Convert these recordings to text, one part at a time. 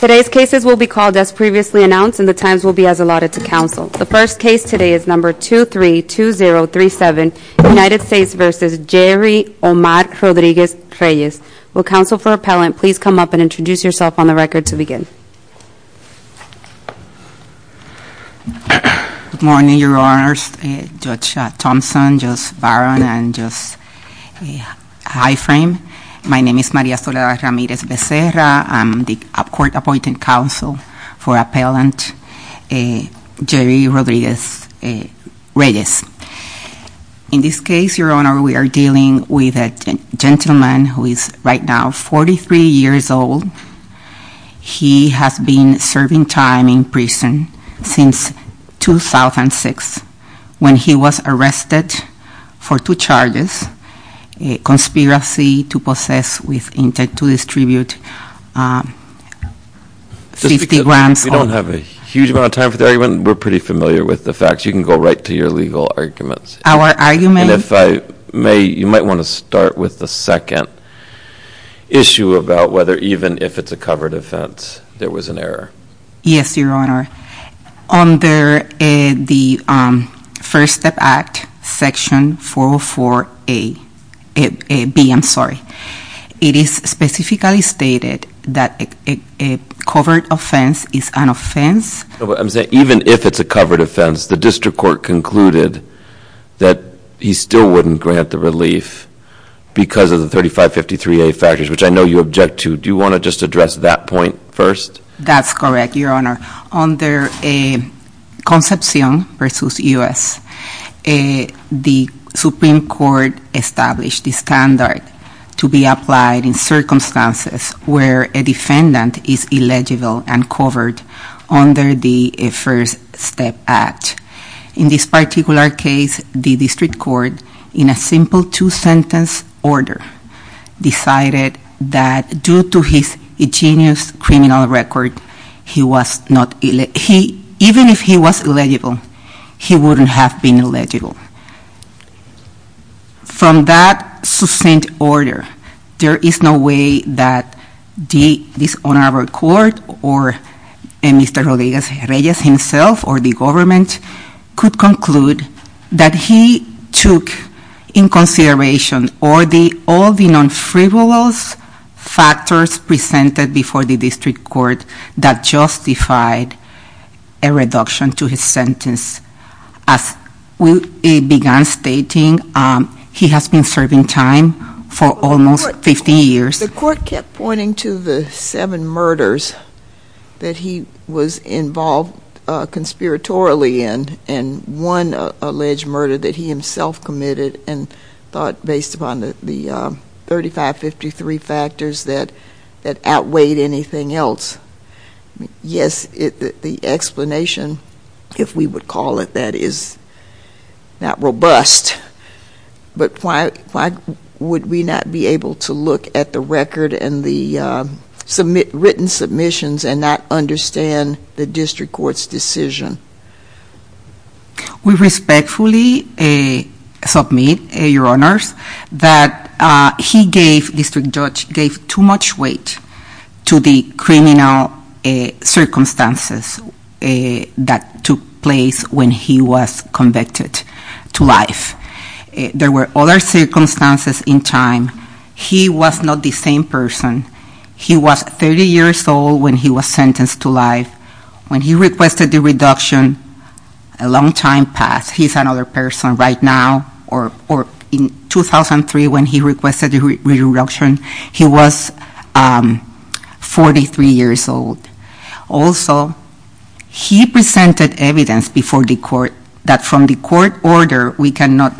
Today's cases will be called as previously announced, and the times will be as allotted to counsel. The first case today is No. 232037, United States v. Jerry Omar Rodriguez-Reyes. Will counsel for appellant please come up and introduce yourself on the record to begin. Good morning, Your Honors. Judge Thompson, Judge Barron, and Judge Highframe. My name is Maria Soledad Ramirez Becerra. I'm the court appointed counsel for appellant Jerry Rodriguez-Reyes. In this case, Your Honor, we are dealing with a gentleman who is right now 43 years old. He has been serving time in prison since 2006 when he was arrested for two charges, a conspiracy to possess with intent to distribute 50 grams of- We don't have a huge amount of time for the argument. We're pretty familiar with the facts. You can go right to your legal arguments. Our argument- And if I may, you might want to start with the second issue about whether even if it's a covered offense there was an error. Yes, Your Honor. Under the First Step Act, Section 404A, B, I'm sorry. It is specifically stated that a covered offense is an offense- I'm saying even if it's a covered offense, the district court concluded that he still wouldn't grant the relief because of the 3553A factors, which I know you object to. Do you want to just address that point first? That's correct, Your Honor. Under Concepcion v. U.S., the Supreme Court established the standard to be applied in circumstances where a defendant is illegible and covered under the First Step Act. In this particular case, the district court, in a simple two-sentence order, decided that due to his ingenious criminal record, even if he was illegible, he wouldn't have been illegible. From that succinct order, there is no way that this honorable court or Mr. Rodriguez-Reyes himself or the government could conclude that he took in consideration all the non-frivolous factors presented before the district court that justified a reduction to his sentence. As we began stating, he has been serving time for almost 15 years. The court kept pointing to the seven murders that he was involved conspiratorially in, and one alleged murder that he himself committed and thought based upon the 3553 factors that outweighed anything else. Yes, the explanation, if we would call it that, is not robust, but why would we not be able to look at the record and the written submissions and not understand the district court's decision? We respectfully submit, Your Honors, that he gave, the district judge gave, too much weight to the criminal circumstances that took place when he was convicted to life. There were other circumstances in time. He was not the same person. He was 30 years old when he was sentenced to life. When he requested the reduction, a long time passed. He's another person right now. In 2003, when he requested the reduction, he was 43 years old. Also, he presented evidence before the court that from the court order, we cannot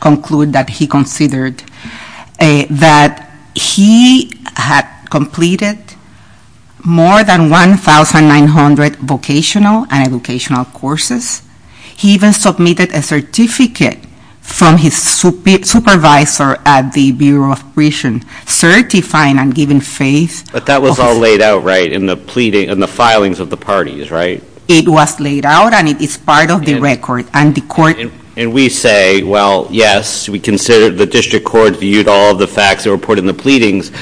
conclude that he considered that he had completed more than 1,900 vocational and educational courses. He even submitted a certificate from his supervisor at the Bureau of Prison, certifying and giving faith. But that was all laid out, right, in the pleading, in the filings of the parties, right? It was laid out, and it is part of the record, and the court. And we say, well, yes, we consider, the district court viewed all the facts that were put in the pleadings,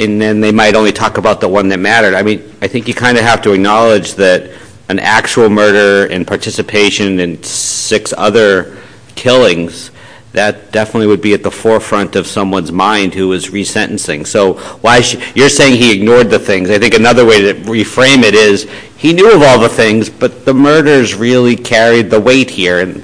and then they might only talk about the one that mattered. I mean, I think you kind of have to acknowledge that an actual murder and participation in six other killings, that definitely would be at the forefront of someone's mind who is resentencing. So you're saying he ignored the things. I think another way to reframe it is he knew of all the things, but the murders really carried the weight here, and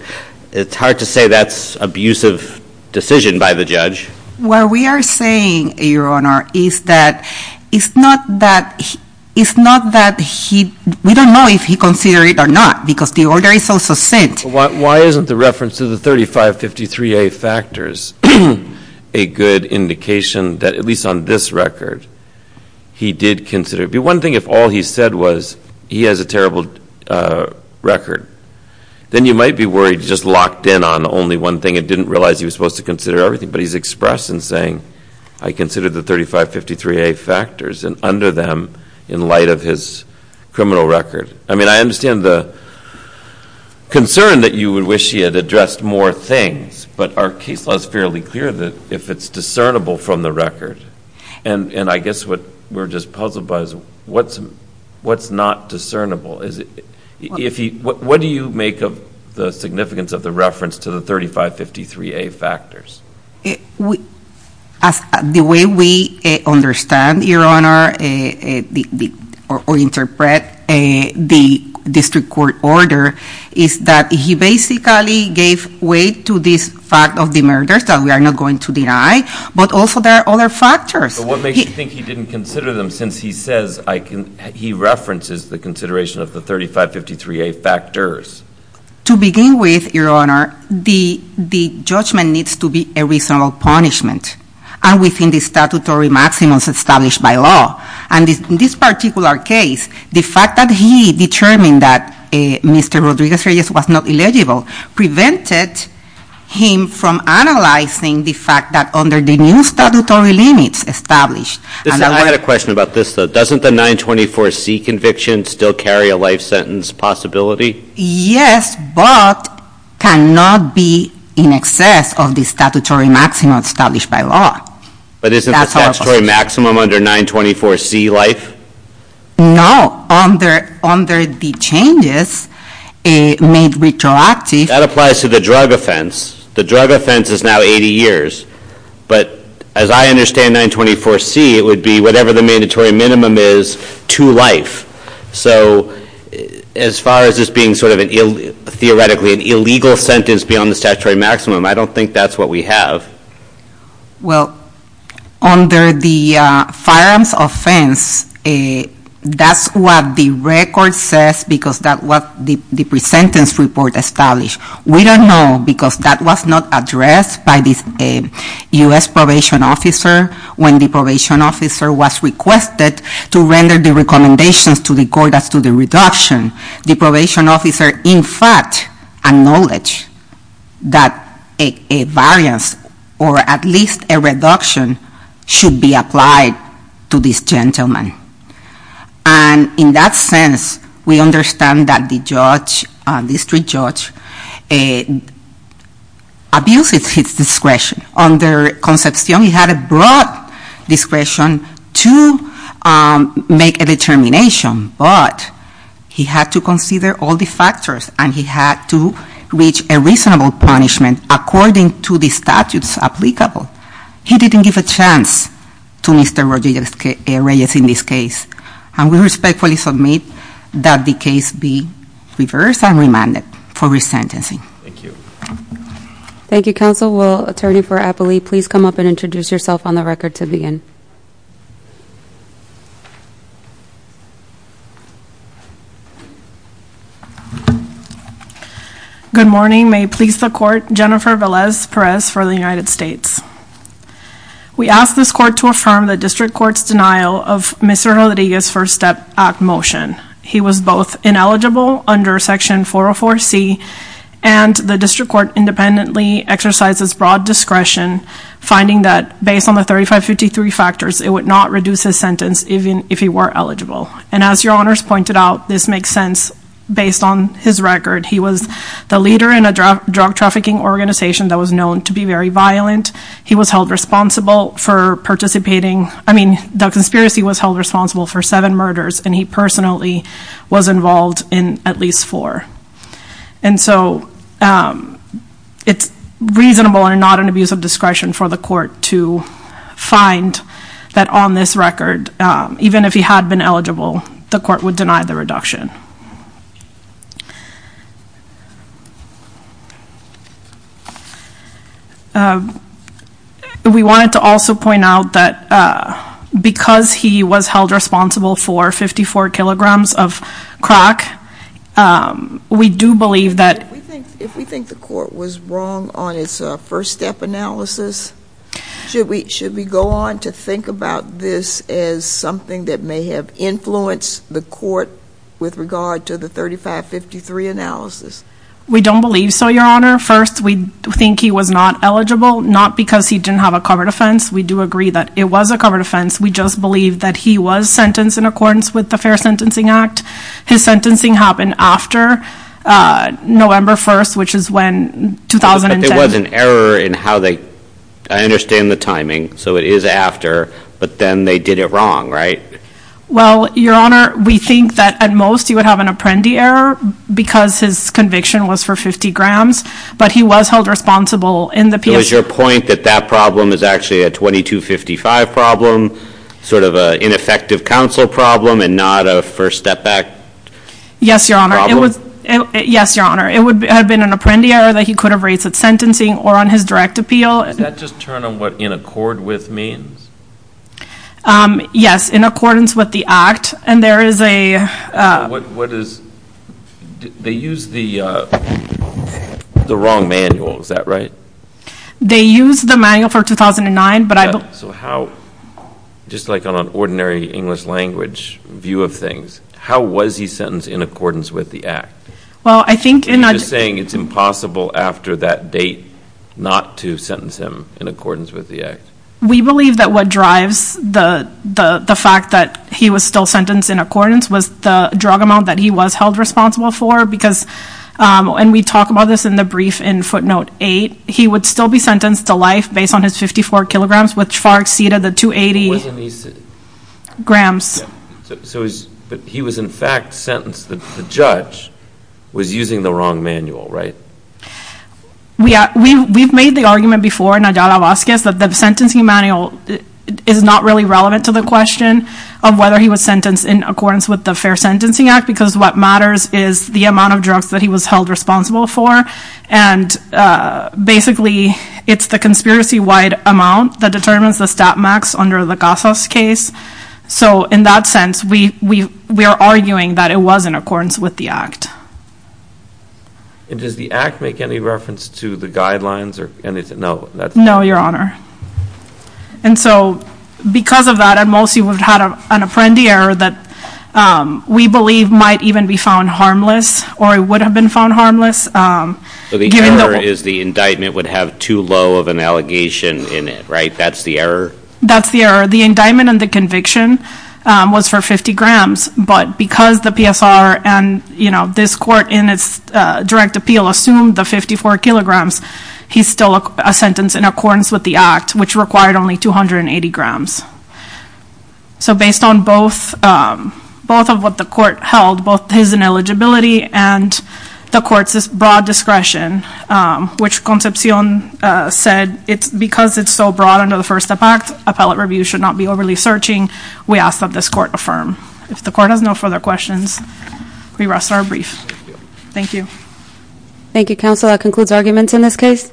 it's hard to say that's abusive decision by the judge. What we are saying, Your Honor, is that it's not that he, we don't know if he considered it or not, because the order is also sent. Why isn't the reference to the 3553A factors a good indication that, at least on this record, he did consider it? One thing, if all he said was he has a terrible record, then you might be worried he just locked in on only one thing and didn't realize he was supposed to consider everything. But he's expressed in saying, I considered the 3553A factors and under them in light of his criminal record. I mean, I understand the concern that you would wish he had addressed more things, but our case law is fairly clear that if it's discernible from the record, and I guess what we're just puzzled by is what's not discernible? What do you make of the significance of the reference to the 3553A factors? The way we understand, Your Honor, or interpret the district court order, is that he basically gave weight to this fact of the murders that we are not going to deny, but also there are other factors. But what makes you think he didn't consider them, since he says he references the consideration of the 3553A factors? To begin with, Your Honor, the judgment needs to be a reasonable punishment, and within the statutory maximums established by law. And in this particular case, the fact that he determined that Mr. Rodriguez-Reyes was not illegible prevented him from analyzing the fact that under the new statutory limits established. I had a question about this, though. Doesn't the 924C conviction still carry a life sentence possibility? Yes, but cannot be in excess of the statutory maximum established by law. But isn't the statutory maximum under 924C life? No, under the changes made retroactive. That applies to the drug offense. The drug offense is now 80 years. But as I understand 924C, it would be whatever the mandatory minimum is to life. So as far as this being sort of theoretically an illegal sentence beyond the statutory maximum, I don't think that's what we have. Well, under the firearms offense, that's what the record says, because that's what the presentence report established. We don't know, because that was not addressed by the U.S. probation officer when the probation officer was requested to render the recommendations to the court as to the reduction. The probation officer, in fact, acknowledged that a variance or at least a reduction should be applied to this gentleman. And in that sense, we understand that the judge, the district judge, abuses his discretion. Under Concepcion, he had a broad discretion to make a determination, but he had to consider all the factors and he had to reach a reasonable punishment according to the statutes applicable. He didn't give a chance to Mr. Rodriguez in this case. And we respectfully submit that the case be reversed and remanded for resentencing. Thank you. Thank you, counsel. Well, attorney for Appley, please come up and introduce yourself on the record to begin. Good morning. May it please the court, Jennifer Velez Perez for the United States. We ask this court to affirm the district court's denial of Mr. Rodriguez's first step act motion. He was both ineligible under Section 404C and the district court independently exercises broad discretion, finding that based on the 3553 factors, it would not reduce his sentence even if he were eligible. And as your honors pointed out, this makes sense based on his record. He was the leader in a drug trafficking organization that was known to be very violent. He was held responsible for participating. I mean, the conspiracy was held responsible for seven murders and he personally was involved in at least four. And so it's reasonable and not an abuse of discretion for the court to find that on this record, even if he had been eligible, the court would deny the reduction. We wanted to also point out that because he was held responsible for 54 kilograms of crack, we do believe that... If we think the court was wrong on its first step analysis, should we go on to think about this as something that may have influenced the court with regard to the 3553 analysis? We don't believe so, your honor. First, we think he was not eligible, not because he didn't have a covered offense. We do agree that it was a covered offense. We just believe that he was sentenced in accordance with the Fair Sentencing Act. His sentencing happened after November 1st, which is when 2010... But there was an error in how they... I understand the timing, so it is after, but then they did it wrong, right? Well, your honor, we think that at most he would have an apprendi error because his conviction was for 50 grams, but he was held responsible in the... So is your point that that problem is actually a 2255 problem, sort of an ineffective counsel problem and not a first step back problem? Yes, your honor. It would have been an apprendi error that he could have raised at sentencing or on his direct appeal. Does that just turn on what in accord with means? Yes, in accordance with the act, and there is a... What is... They used the wrong manual, is that right? They used the manual for 2009, but I... So how... Just like on an ordinary English language view of things, how was he sentenced in accordance with the act? Well, I think... Are you just saying it's impossible after that date not to sentence him in accordance with the act? We believe that what drives the fact that he was still sentenced in accordance was the drug amount that he was held responsible for because... And we talk about this in the brief in footnote 8. He would still be sentenced to life based on his 54 kilograms, which far exceeded the 280... Wasn't he... Grams. So he was in fact sentenced... The judge was using the wrong manual, right? We've made the argument before, Nadia Vazquez, that the sentencing manual is not really relevant to the question of whether he was sentenced in accordance with the Fair Sentencing Act because what matters is the amount of drugs that he was held responsible for and basically it's the conspiracy-wide amount that determines the stat max under the Casas case. So in that sense, we are arguing that it was in accordance with the act. And does the act make any reference to the guidelines or anything? No, Your Honor. And so because of that, at most, he would have had an apprendi error that we believe might even be found harmless or it would have been found harmless So the error is the indictment would have too low of an allegation in it, right? That's the error? That's the error. The indictment and the conviction was for 50 grams, but because the PSR and this court in its direct appeal assumed the 54 kilograms, he's still a sentence in accordance with the act, which required only 280 grams. So based on both of what the court held, both his ineligibility and the court's broad discretion, which Concepcion said because it's so broad under the First Step Act, appellate review should not be overly searching, we ask that this court affirm. If the court has no further questions, we rest our brief. Thank you. Thank you, Counsel. That concludes arguments in this case.